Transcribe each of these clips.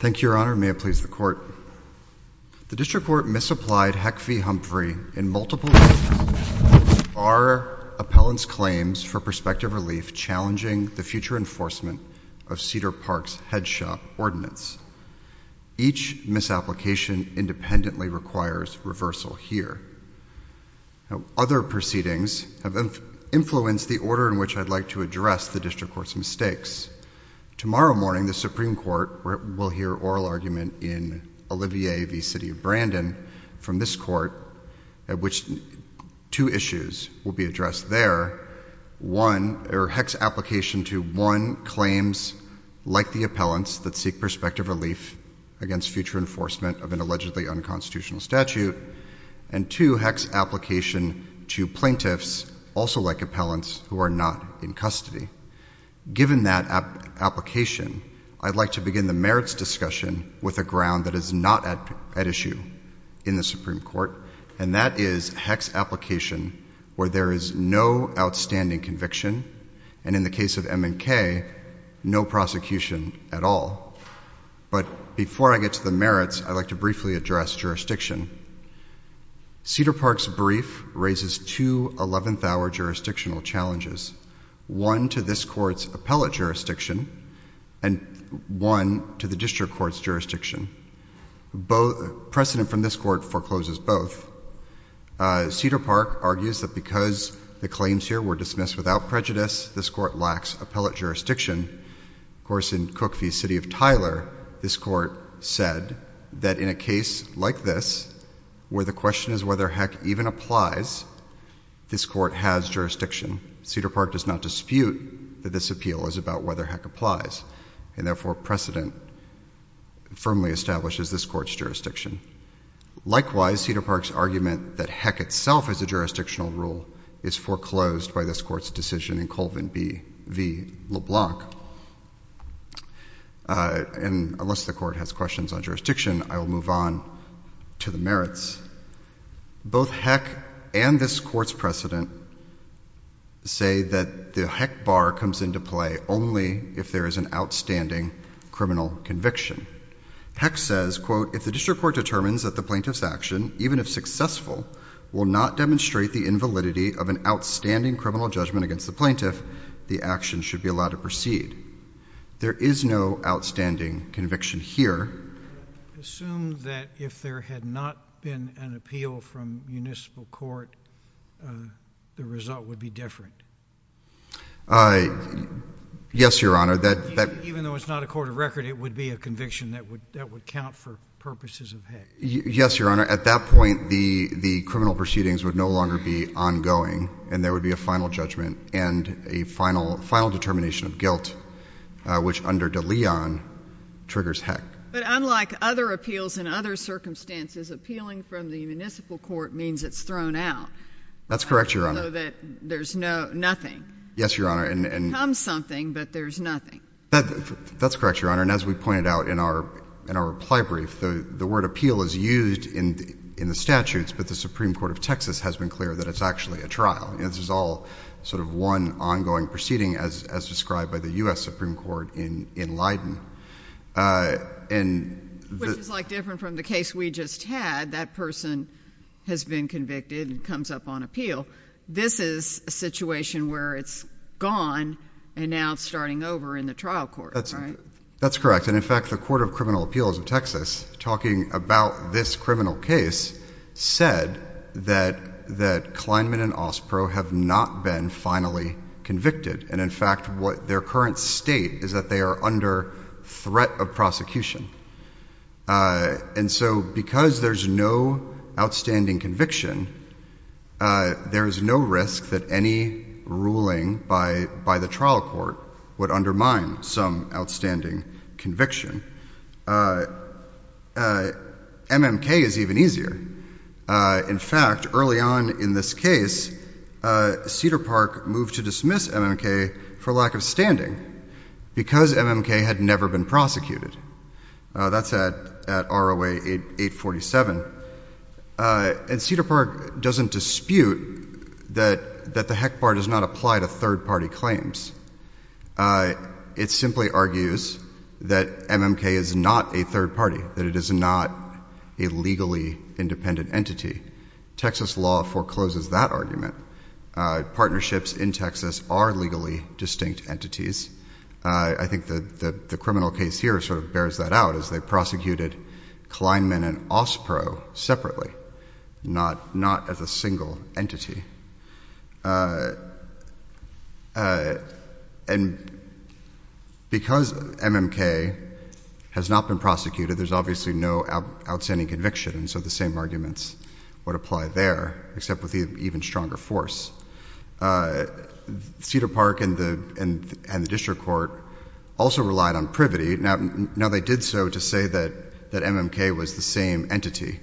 Thank you, Your Honor. May it please the Court. The District Court misapplied HECV Humphrey in multiple cases. Our appellant's claims for prospective relief challenging the future enforcement of Cedar Park's headshot ordinance. Each misapplication independently requires reversal here. Other proceedings have influenced the order in which I'd like to address the District Court's mistakes. Tomorrow morning, the Supreme Court will hear oral argument in Olivier v. City of Brandon from this Court, at which two issues will be addressed there. One, or HEC's application to one claims, like the appellant's, that seek prospective relief against future enforcement of an allegedly unconstitutional statute. And two, HEC's application to plaintiffs, also like appellants, who are not in custody. Given that application, I'd like to begin the merits discussion with a ground that is not at issue in the Supreme Court, and that is HEC's application where there is no outstanding conviction, and in the case of M&K, no prosecution at all. But before I get to the merits, I'd like to briefly address jurisdiction. Cedar Park's brief raises two eleventh-hour jurisdictional challenges. One to this Court's appellate jurisdiction, and one to the District Court's jurisdiction. Precedent from this Court forecloses both. Cedar Park argues that because the claims here were dismissed without prejudice, this Court lacks appellate jurisdiction. Of course, in Cook v. City of Tyler, this Court said that in a case like this, where the question is whether HEC even applies, this Court has jurisdiction. Cedar Park does not dispute that this appeal is about whether HEC applies, and therefore precedent firmly establishes this Court's jurisdiction. Likewise, Cedar Park's argument that HEC itself is a jurisdictional rule is foreclosed by this Court's decision in Colvin v. LeBlanc. And unless the Court has questions on jurisdiction, I will move on to the merits. Both HEC and this Court's precedent say that the HEC bar comes into play only if there is an outstanding criminal conviction. HEC says, quote, if the District Court determines that the plaintiff's action, even if successful, will not demonstrate the invalidity of an outstanding criminal judgment against the plaintiff, the action should be allowed to proceed. There is no outstanding conviction here. Assume that if there had not been an appeal from municipal court, the result would be different. Yes, Your Honor. Even though it's not a court of record, it would be a conviction that would count for purposes of HEC. Yes, Your Honor. At that point, the criminal proceedings would no longer be ongoing, and there would be a final judgment and a final determination of guilt, which under De Leon triggers HEC. But unlike other appeals in other circumstances, appealing from the municipal court means it's thrown out. That's correct, Your Honor. Even though there's nothing. Yes, Your Honor. It becomes something, but there's nothing. That's correct, Your Honor. And as we pointed out in our reply brief, the word appeal is used in the statutes, but the Supreme Court of Texas has been clear that it's actually a trial. This is all sort of one ongoing proceeding as described by the U.S. Supreme Court in Leiden. Which is, like, different from the case we just had. That person has been convicted and comes up on appeal. This is a situation where it's gone, and now it's starting over in the trial court, right? That's correct. And in fact, the Court of Criminal Appeals of Texas, talking about this criminal case, said that Kleinman and Ospro have not been finally convicted. And in fact, what their current state is that they are under threat of prosecution. And so, because there's no outstanding conviction, there is no risk that any ruling by the trial court would undermine some outstanding conviction. MMK is even easier. In fact, early on in this case, Cedar Park moved to dismiss MMK for lack of standing because MMK had never been prosecuted. That's at ROA 847. And Cedar Park doesn't dispute that the heck part does not apply to third-party claims. It simply argues that MMK is not a third party, that it is not a legally independent entity. Texas law forecloses that argument. Partnerships in Texas are legally distinct entities. I think the criminal case here sort of bears that out, as they prosecuted Kleinman and Ospro separately, not as a single entity. And because MMK has not been prosecuted, there's obviously no outstanding conviction. And so, the same arguments would apply there, except with an even stronger force. Cedar Park and the district court also relied on privity. Now, they did so to say that MMK was the same entity,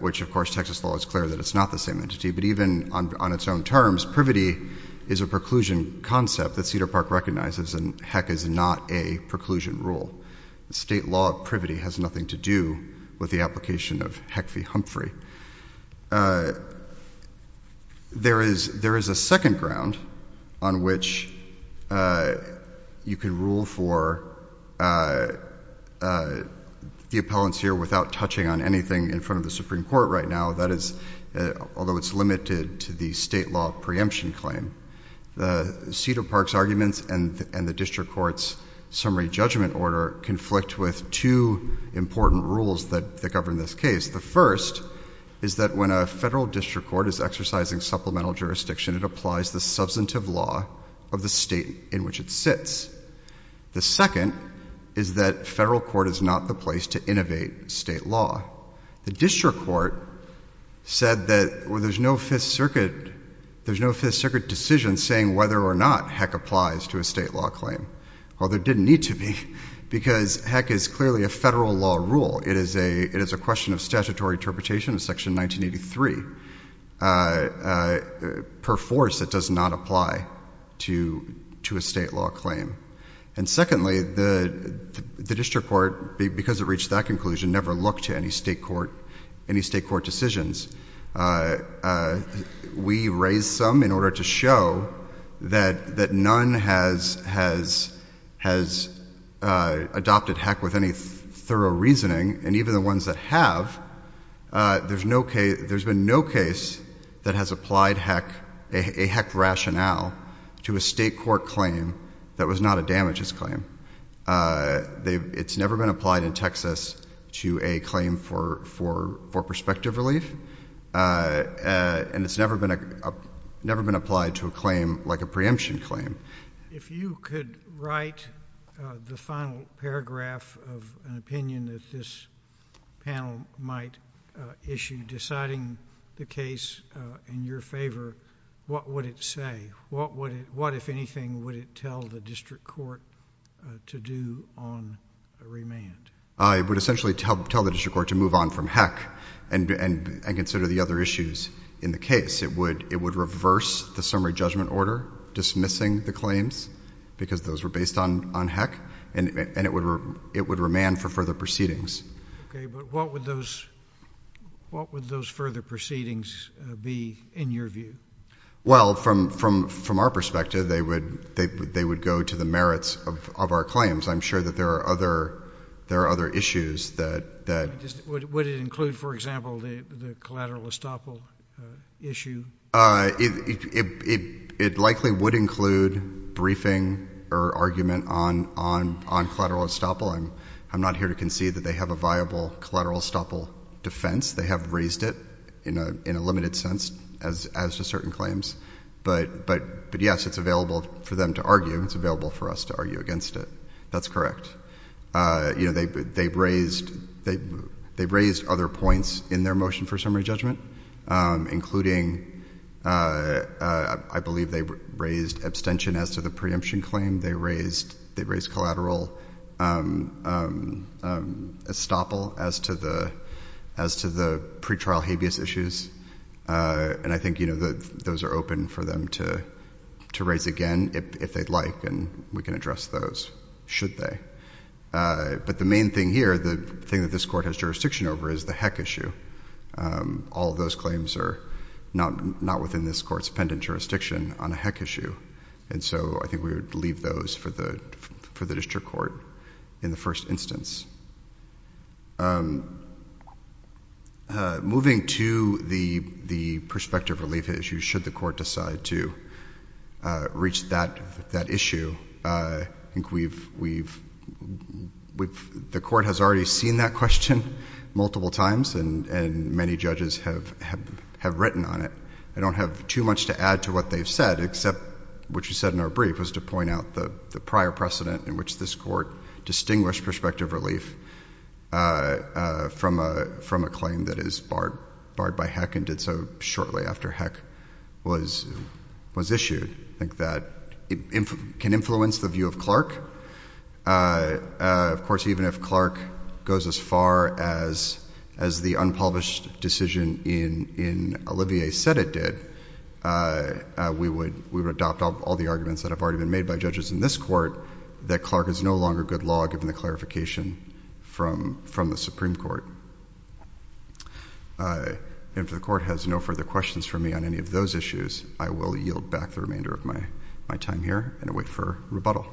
which of course, Texas law is clear that it's not the same entity. But even on its own terms, privity is a preclusion concept that Cedar Park recognizes and heck is not a preclusion rule. State law privity has nothing to do with the application of Heck v. Humphrey. There is a second ground on which you can rule for the appellants here without touching on anything in front of the Supreme Court right now, that is, although it's limited to the state law preemption claim, Cedar Park's arguments and the district court's summary judgment order conflict with two important rules that govern this case. The first is that when a federal district court is exercising supplemental jurisdiction, it applies the substantive law of the state in which it sits. The second is that federal court is not the place to innovate state law. The district court said that there's no Fifth Circuit decision saying whether or not Heck applies to a state law claim. Well, there didn't need to be because Heck is clearly a federal law rule. It is a question of statutory interpretation of Section 1983. Per force, it does not apply to a state law claim. And secondly, the district court, because it reached that conclusion, never looked to any state court decisions. We raised some in order to show that none has adopted Heck with any thorough reasoning, and even the ones that have, there's been no case that has applied a Heck rationale to a state court claim that was not a damages claim. It's never been applied in Texas to a claim for perspective relief. And it's never been applied to a claim like a preemption claim. If you could write the final paragraph of an opinion that this panel might issue deciding the case in your favor, what would it say? What if anything would it tell the district court to do on remand? It would essentially tell the district court to move on from Heck and consider the other issues in the case. It would reverse the summary judgment order, dismissing the claims, because those were based on Heck, and it would remand for further proceedings. Okay, but what would those further proceedings be in your view? Well, from our perspective, they would go to the merits of our claims. I'm sure that there are other issues that — Would it include, for example, the collateral estoppel issue? It likely would include briefing or argument on collateral estoppel. I'm not here to concede that they have a viable collateral estoppel defense. They have raised it in a limited sense, as to certain claims, but yes, it's available for them to argue. It's available for us to argue against it. That's correct. You know, they've raised other points in their motion for summary judgment, including I believe they raised abstention as to the preemption claim. They raised collateral estoppel as to the pretrial habeas issues, and I think, you know, those are open for them to raise again if they'd like, and we can address those, should they. But the main thing here, the thing that this Court has jurisdiction over is the Heck issue. All those claims are not within this Court's pendent jurisdiction on a Heck issue, and so I think we would leave those for the district court in the first instance. Moving to the prospective relief issue, should the Court decide to reach that issue, I think the Court has already seen that question multiple times, and many judges have written on it. I don't have too much to add to what they've said, except what you said in our brief was to point out the prior precedent in which this Court distinguished prospective relief from a claim that is barred by Heck and did so shortly after Heck was issued. I think that can influence the view of Clark. Of course, even if Clark goes as far as the unpublished decision in Olivier said it did, we would adopt all the arguments that have already been made by judges in this Court that Clark is no longer good law, given the clarification from the Supreme Court. If the Court has no further questions for me on any of those issues, I will yield back the remainder of my time here and wait for rebuttal.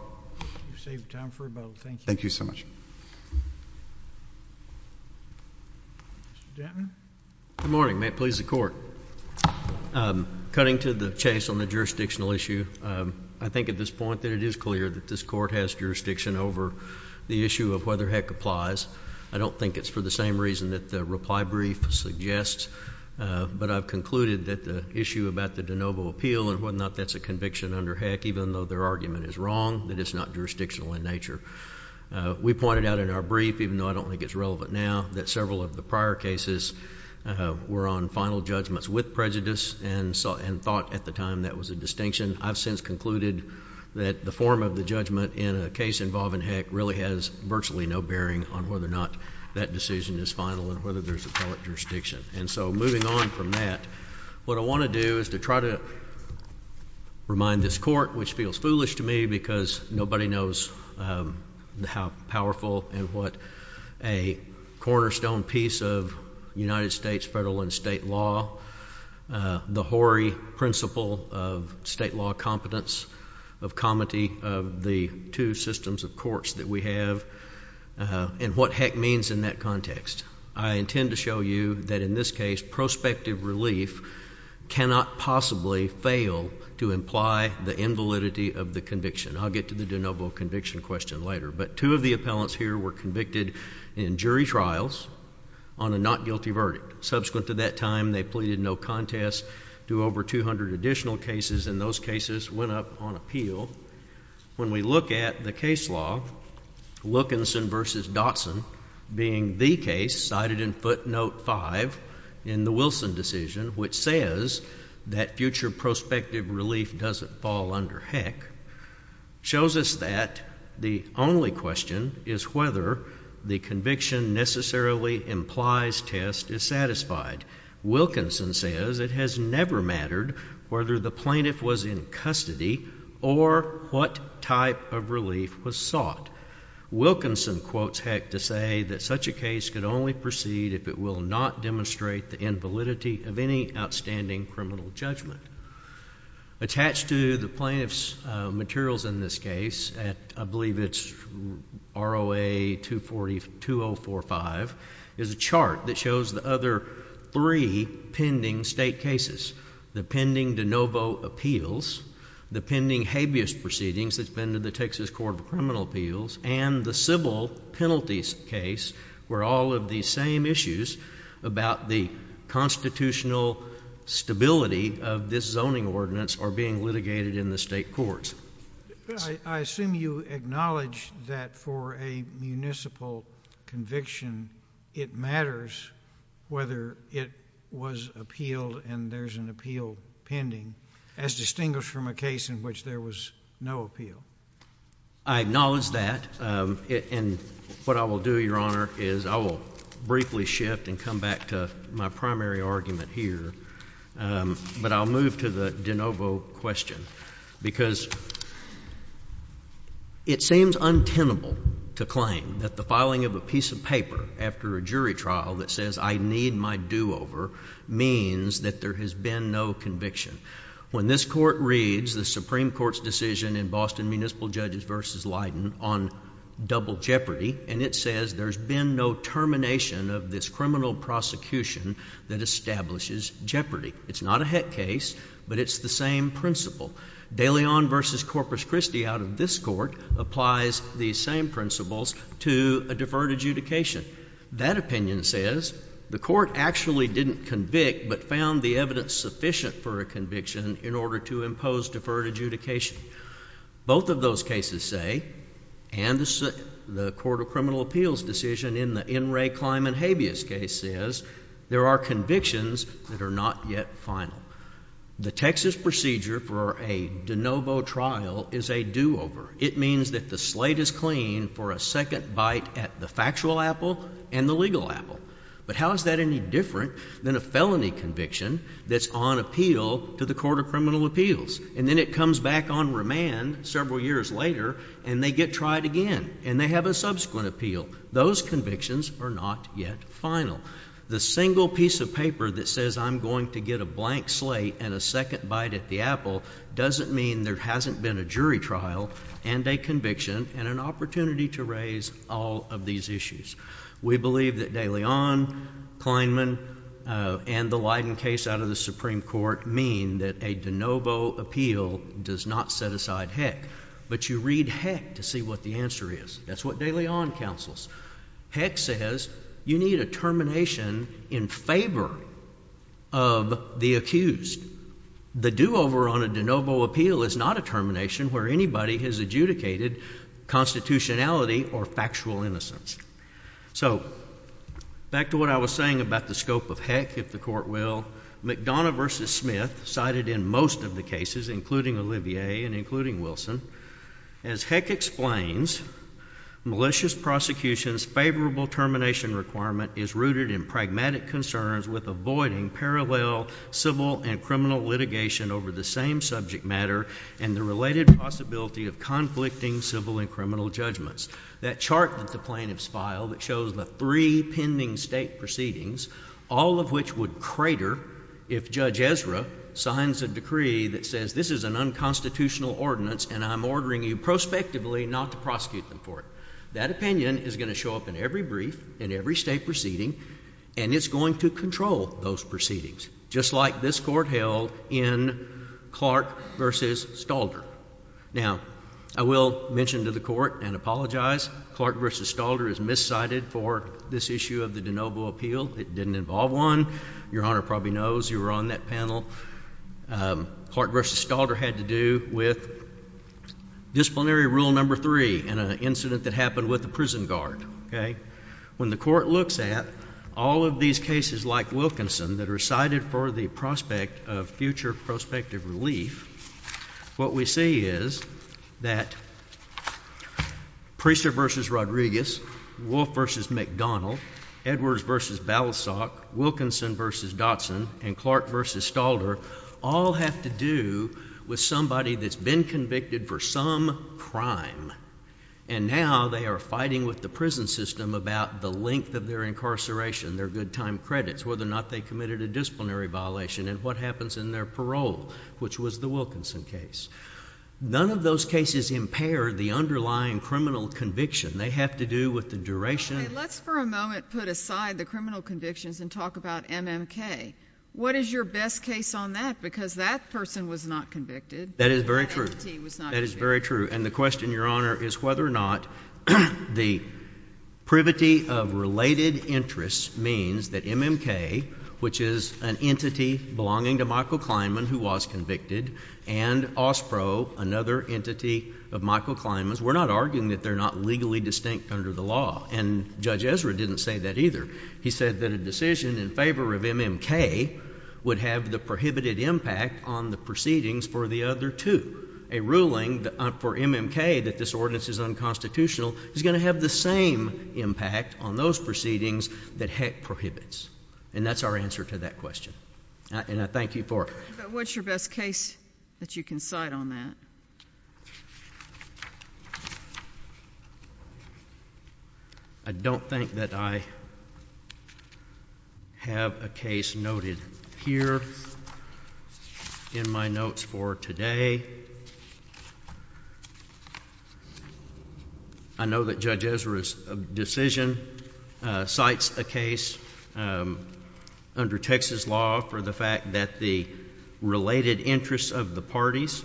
You've saved time for rebuttal. Thank you. Thank you so much. Mr. Dantner? Good morning. May it please the Court. Cutting to the chase on the jurisdictional issue, I think at this point that it is clear that this Court has jurisdiction over the issue of whether Heck applies. I don't think it's for the same reason that the reply brief suggests, but I've concluded that the issue about the de novo appeal and whether or not that's a conviction under Heck, even though their argument is wrong, that it's not jurisdictional in nature. We pointed out in our brief, even though I don't think it's relevant now, that several of the prior cases were on final judgments with prejudice and thought at the time that was a distinction. I've since concluded that the form of the judgment in a case involving Heck really has virtually no bearing on whether or not that decision is final and whether there's appellate jurisdiction. And so, moving on from that, what I want to do is to try to remind this Court, which feels United States federal and state law, the Horry principle of state law competence, of comity of the two systems of courts that we have, and what Heck means in that context. I intend to show you that in this case, prospective relief cannot possibly fail to imply the invalidity of the conviction. I'll get to the de novo conviction question later, but two of the appellants here were convicted in jury trials on a not guilty verdict. Subsequent to that time, they pleaded no contest to over 200 additional cases, and those cases went up on appeal. When we look at the case law, Wilkinson v. Dotson being the case cited in footnote five in the Wilson decision, which says that future prospective relief doesn't fall under Heck, shows us that the only question is whether the conviction necessarily implies test is Wilkinson says it has never mattered whether the plaintiff was in custody or what type of relief was sought. Wilkinson quotes Heck to say that such a case could only proceed if it will not demonstrate the invalidity of any outstanding criminal judgment. Attached to the plaintiff's materials in this case, I believe it's ROA 24045, is a chart that shows the other three pending state cases. The pending de novo appeals, the pending habeas proceedings that's been to the Texas Court of Criminal Appeals, and the civil penalties case were all of the same issues about the constitutional stability of this zoning ordinance are being litigated in the state courts. I assume you acknowledge that for a municipal conviction, it matters whether it was appealed and there's an appeal pending, as distinguished from a case in which there was no appeal. I acknowledge that, and what I will do, Your Honor, is I will briefly shift and come back to my primary argument here, but I'll move to the de novo question because it seems untenable to claim that the filing of a piece of paper after a jury trial that says I need my do-over means that there has been no conviction. When this court reads the Supreme Court's decision in Boston Municipal Judges v. Leiden on double jeopardy, and it says there's been no termination of this criminal prosecution that establishes jeopardy. It's not a heck case, but it's the same principle. De Leon v. Corpus Christi out of this court applies these same principles to a deferred adjudication. That opinion says the court actually didn't convict but found the evidence sufficient for a conviction in order to impose deferred adjudication. Both of those cases say, and the Court of Criminal Appeals decision in the N. Ray Kleinman habeas case says, there are convictions that are not yet final. The Texas procedure for a de novo trial is a do-over. It means that the slate is clean for a second bite at the factual apple and the legal apple. But how is that any different than a felony conviction that's on appeal to the Court of Criminal Appeals? And then it comes back on remand several years later, and they get tried again, and they have a subsequent appeal. Those convictions are not yet final. The single piece of paper that says I'm going to get a blank slate and a second bite at the apple doesn't mean there hasn't been a jury trial and a conviction and an opportunity to raise all of these issues. We believe that De Leon, Kleinman, and the case out of the Supreme Court mean that a de novo appeal does not set aside heck, but you read heck to see what the answer is. That's what De Leon counsels. Heck says you need a termination in favor of the accused. The do-over on a de novo appeal is not a termination where anybody has adjudicated constitutionality or factual innocence. So back to what I was saying about the scope of heck, if the Court will, McDonough v. Smith cited in most of the cases, including Olivier and including Wilson, as heck explains, malicious prosecution's favorable termination requirement is rooted in pragmatic concerns with avoiding parallel civil and criminal litigation over the same subject matter and the related possibility of conflicting civil and criminal judgments. That chart that the plaintiffs file that shows the three pending state proceedings, all of which would crater if Judge Ezra signs a decree that says this is an unconstitutional ordinance and I'm ordering you prospectively not to prosecute them for it. That opinion is going to show up in every brief, in every state proceeding, and it's going to control those proceedings, just like this Court held in Clark v. Stalder. Now, I will mention to the Court and apologize, Clark v. Stalder is miscited for this issue of the de novo appeal. It didn't involve one. Your Honor probably knows you were on that panel. Clark v. Stalder had to do with disciplinary rule number three in an incident that happened with a prison guard. When the Court looks at all of these cases like Wilkinson that are cited for the prospect of future prospective relief, what we see is that Priester v. Rodriguez, Wolf v. McDonald, Edwards v. Balasag, Wilkinson v. Dotson, and Clark v. Stalder all have to do with somebody that's been convicted for some crime, and now they are fighting with the prison system about the length of their incarceration, their good time credits, whether or not they committed a disciplinary violation, and what happens in their parole, which was the Wilkinson case. None of those cases impair the underlying criminal conviction. They have to do with the duration... Okay. Let's for a moment put aside the criminal convictions and talk about MMK. What is your best case on that? Because that person was not convicted. That is very true. That entity was not convicted. That is very true. And the question, Your Honor, is whether or not the privity of related interests means that MMK, which is an entity belonging to Michael Kleinman who was convicted, and OSPRO, another entity of Michael Kleinman's, we're not arguing that they're not legally distinct under the law, and Judge Ezra didn't say that either. He said that a decision in favor of MMK would have the prohibited impact on the proceedings for the other two, a ruling for MMK that this ordinance is unconstitutional is going to have the same impact on those proceedings that Heck prohibits. And that's our answer to that question. And I thank you for it. But what's your best case that you can cite on that? I don't think that I have a case noted here in my notes for today. I know that Judge Ezra's decision cites a case under Texas law for the fact that the related interests of the parties,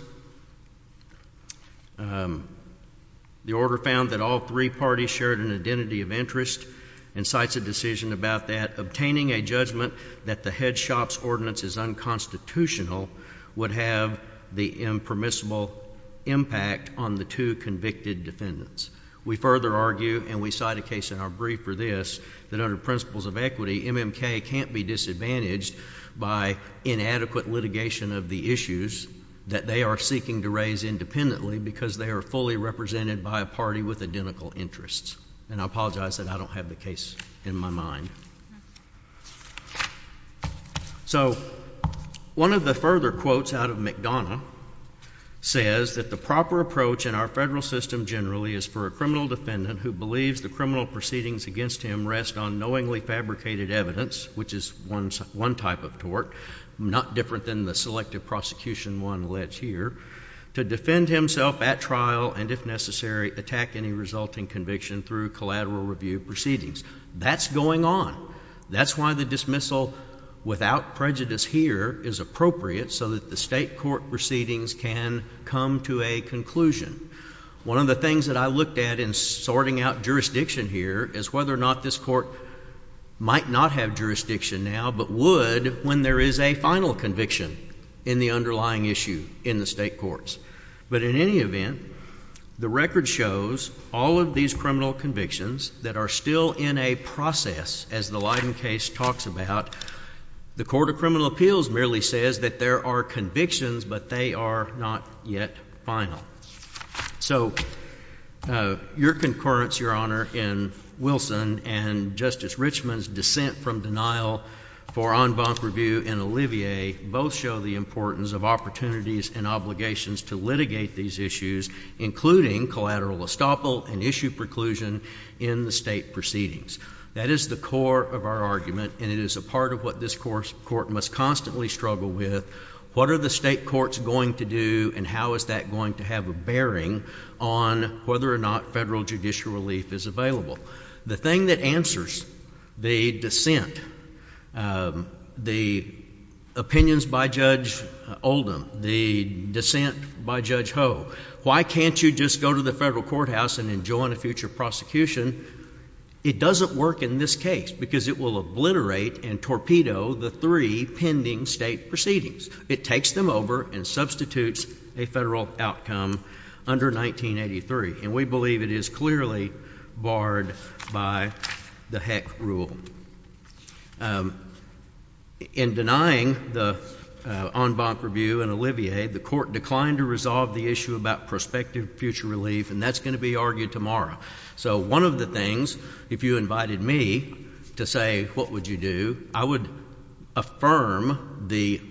the order found that all three parties shared an identity of interest and cites a decision about that, obtaining a judgment that the head shop's ordinance is unconstitutional would have the impermissible impact on the two convicted defendants. We further argue, and we cite a case in our brief for this, that under principles of equity, MMK can't be disadvantaged by inadequate litigation of the issues that they are seeking to raise independently because they are fully represented by a party with identical interests. And I apologize that I don't have the case in my mind. So, one of the further quotes out of McDonough says that the proper approach in our federal system generally is for a criminal defendant who believes the criminal proceedings against him rest on knowingly fabricated evidence, which is one type of tort, not different than the selective prosecution one alleged here, to defend himself at trial and if necessary attack any resulting conviction through collateral review proceedings. That's going on. That's why the dismissal without prejudice here is appropriate so that the state court proceedings can come to a conclusion. One of the things that I looked at in sorting out jurisdiction here is whether or not this court might not have jurisdiction now but would when there is a final conviction in the underlying issue in the state courts. But in any event, the record shows all of these criminal convictions that are still in a process, as the Leiden case talks about, the Court of Criminal Appeals merely says that there are convictions but they are not yet final. So, your concurrence, Your Honor, in Wilson and Justice Richmond's dissent from denial for en banc review in Olivier both show the importance of opportunities and obligations to litigate these issues, including collateral estoppel and issue preclusion in the state proceedings. That is the core of our argument and it is a part of what this court must constantly struggle with. What are the state courts going to do and how is that going to have a bearing on whether or not federal judicial relief is available? The thing that answers the dissent, the opinions by Judge Oldham, the dissent from denial for en banc review, the dissent by Judge Ho, why can't you just go to the federal courthouse and enjoin a future prosecution? It doesn't work in this case because it will obliterate and torpedo the three pending state proceedings. It takes them over and substitutes a federal outcome under 1983. And we believe it is clearly barred by the Heck rule. In denying the en banc review, the court declined to resolve the issue about prospective future relief and that's going to be argued tomorrow. So one of the things, if you invited me to say what would you do, I would affirm the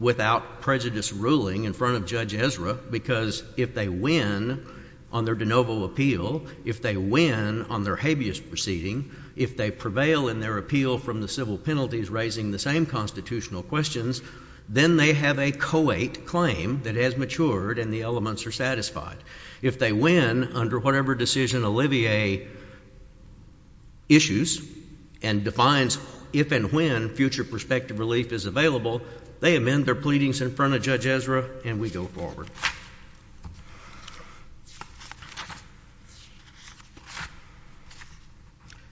without prejudice ruling in front of Judge Ezra because if they win on their de novo appeal, if they win on their habeas proceeding, if they prevail in their appeal from the civil penalties raising the same constitutional questions, then they have a co-ate claim that has matured and the elements are satisfied. If they win under whatever decision Olivier issues and defines if and when future prospective relief is available, they amend their pleadings in front of Judge Ezra and we go forward.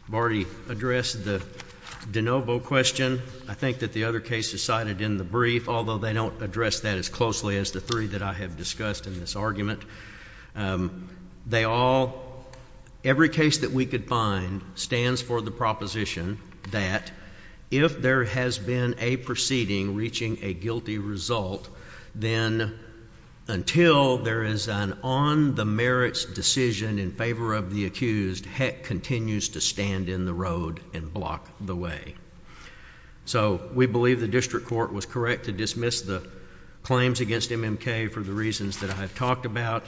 Barty addressed the de novo question. I think that the other case is cited in the brief, although they don't address that as closely as the three that I have discussed in this argument. They all, every case that we could find stands for the proposition that if there has been a proceeding reaching a guilty result, then until there is an on the merits decision in favor of the accused, Heck continues to stand in the road and block the way. So we believe the district court was correct to dismiss the claims against MMK for the reasons that I have talked about.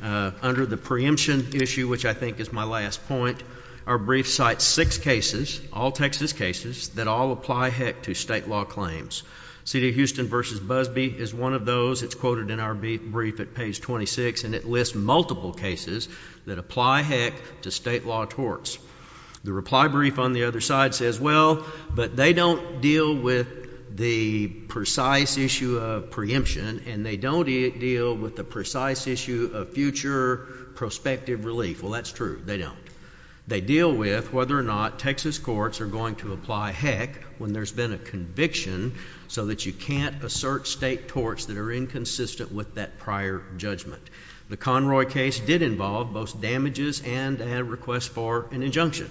Under the preemption issue, which I think is my last point, our brief cites six cases, all Texas cases, that all apply Heck to state law claims. City of Houston v. Busby is one of those. It's quoted in our brief at page 26 and it lists multiple cases that apply Heck to state law torts. The reply brief on the other side says, well, but they don't deal with the precise issue of preemption and they don't deal with the precise issue of future prospective relief. Well, that's true. They don't. They deal with whether or not Texas courts are going to apply Heck when there's been a conviction so that you can't assert state torts that are inconsistent with that prior judgment. The Conroy case did involve both damages and a request for an injunction.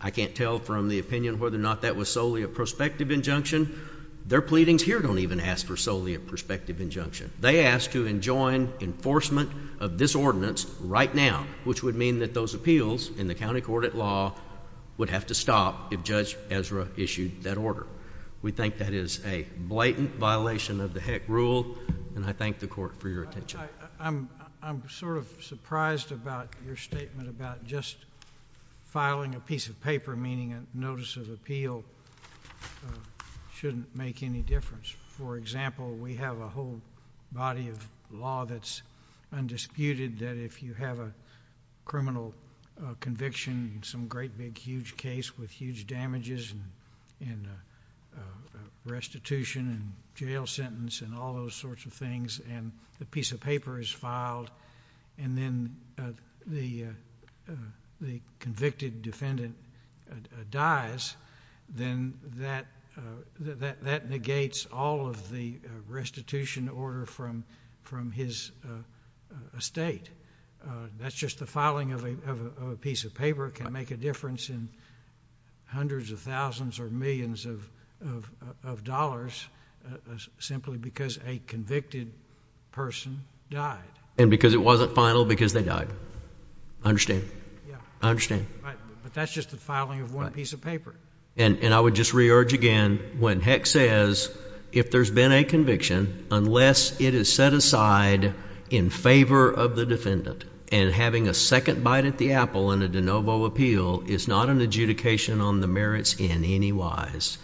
I can't tell from the opinion whether or not that was solely a prospective injunction. Their pleadings here don't even ask for solely a prospective injunction. They ask to enjoin enforcement of this ordinance right now, which would mean that those appeals in the county court at law would have to stop if Judge Ezra issued that order. We think that is a blatant violation of the Heck rule and I thank the court for your attention. I'm sort of surprised about your statement about just filing a piece of paper, meaning a notice of appeal, shouldn't make any difference. For example, we have a whole body of law that's undisputed that if you have a criminal conviction, some great big huge case with huge damages and restitution and jail sentence and all the convicted defendant dies, then that negates all of the restitution order from his estate. That's just the filing of a piece of paper can make a difference in hundreds of thousands or millions of dollars simply because a convicted person died. And because it wasn't final because they died. I understand. I understand. But that's just the filing of one piece of paper. And I would just re-urge again, when Heck says if there's been a conviction, unless it is set aside in favor of the defendant and having a second bite at the apple in a de novo appeal is not an adjudication on the merits in any wise,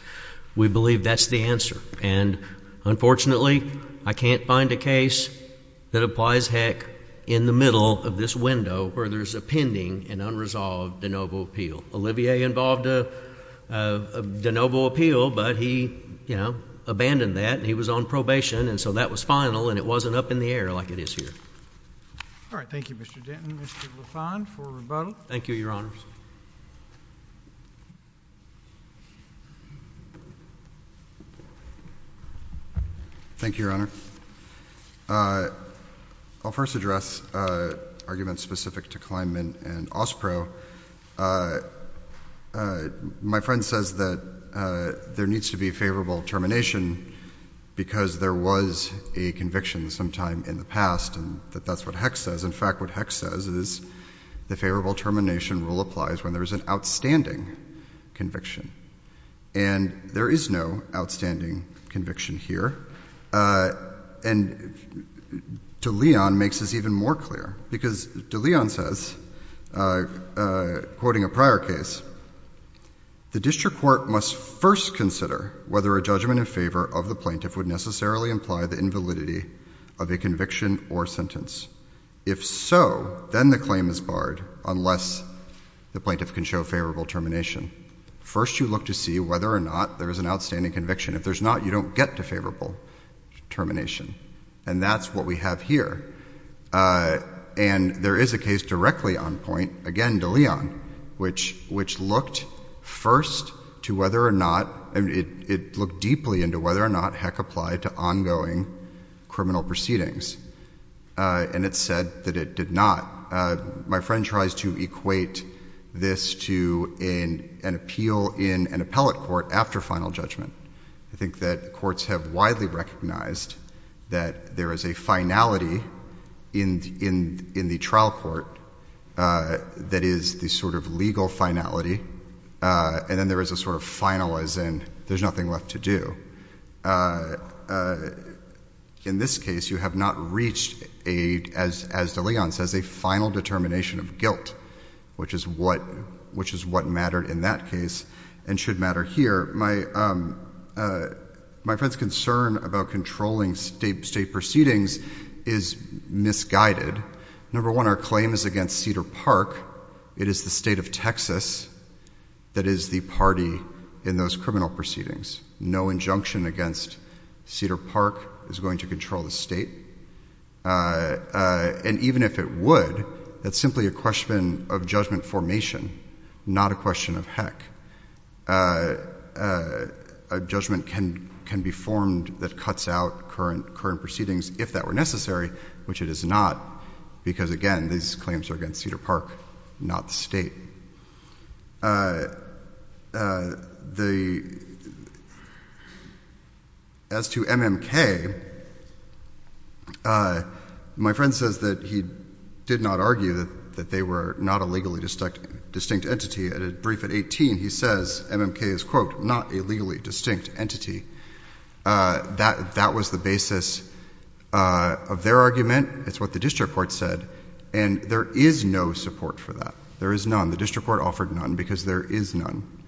we believe that's the answer. And unfortunately, I can't find a case that applies Heck in the middle of this window where there's a pending and unresolved de novo appeal. Olivier involved a de novo appeal, but he, you know, abandoned that and he was on probation and so that was final and it wasn't up in the air like it is here. All right. Thank you, Mr. Denton. Mr. Lafond for rebuttal. Thank you, Your Honors. Thank you, Your Honor. I'll first address arguments specific to Kleinman and Ospro. My friend says that there needs to be a favorable termination because there was a conviction sometime in the past and that that's what Heck says. In fact, what Heck says is the favorable termination rule applies when there is an outstanding conviction and there is no outstanding conviction here and De Leon makes this even more clear because De Leon says, quoting a prior case, the district court must first consider whether a judgment in favor of the plaintiff would necessarily imply the invalidity of a conviction or sentence. If so, then the claim is barred unless the plaintiff can show favorable termination. First, you look to see whether or not there is an outstanding conviction. If there's not, you don't get to favorable termination and that's what we have here. And there is a case directly on point, again, De Leon, which looked first to whether or not, it looked deeply into whether or not Heck applied to ongoing criminal proceedings and it said that it did not. My friend tries to equate this to an appeal in an appellate court after final judgment. I think that courts have widely recognized that there is a finality in the trial court that is the sort of legal finality and then there is a sort of final as in there is nothing left to do. In this case, you have not reached, as De Leon says, a final determination of guilt, which is what mattered in that case and should matter here. My friend's concern about controlling state proceedings is misguided. Number one, our claim is against Cedar Park. It is the state of Texas that is the party in those criminal proceedings. No injunction against Cedar Park is going to control the state. And even if it would, that's simply a question of judgment formation, not a question of Heck. A judgment can be formed that cuts out current proceedings if that were necessary, which it is not, because again, these claims are against Cedar Park, not the state. As to MMK, my friend says that he did not argue that they were not a legally distinct entity. At a brief at 18, he says MMK is, quote, not a legally distinct entity. That was the basis of their argument. It's what the district court said. And there is no support for that. There is none. The district court offered none because there is none.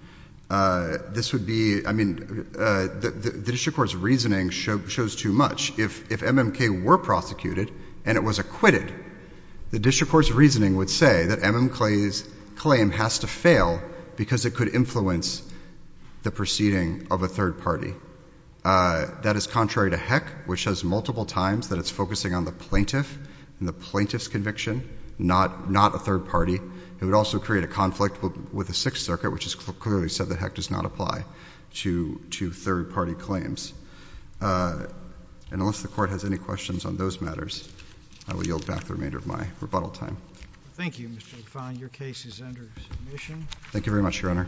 This would be, I mean, the district court's reasoning shows too much. If MMK were prosecuted and it was acquitted, the district court's reasoning would say that MMK's claim has to fail because it could influence the proceeding of a third party. That is contrary to Heck, which has multiple times that it's focusing on the plaintiff and the plaintiff's conviction, not a third party. It would also create a conflict with the Sixth Circuit, which has clearly said that Heck does not apply to third party claims. And unless the court has any questions on those matters, I will yield back the remainder of my rebuttal time. Thank you, Mr. Define. Your case is under submission. Thank you very much, Your Honor.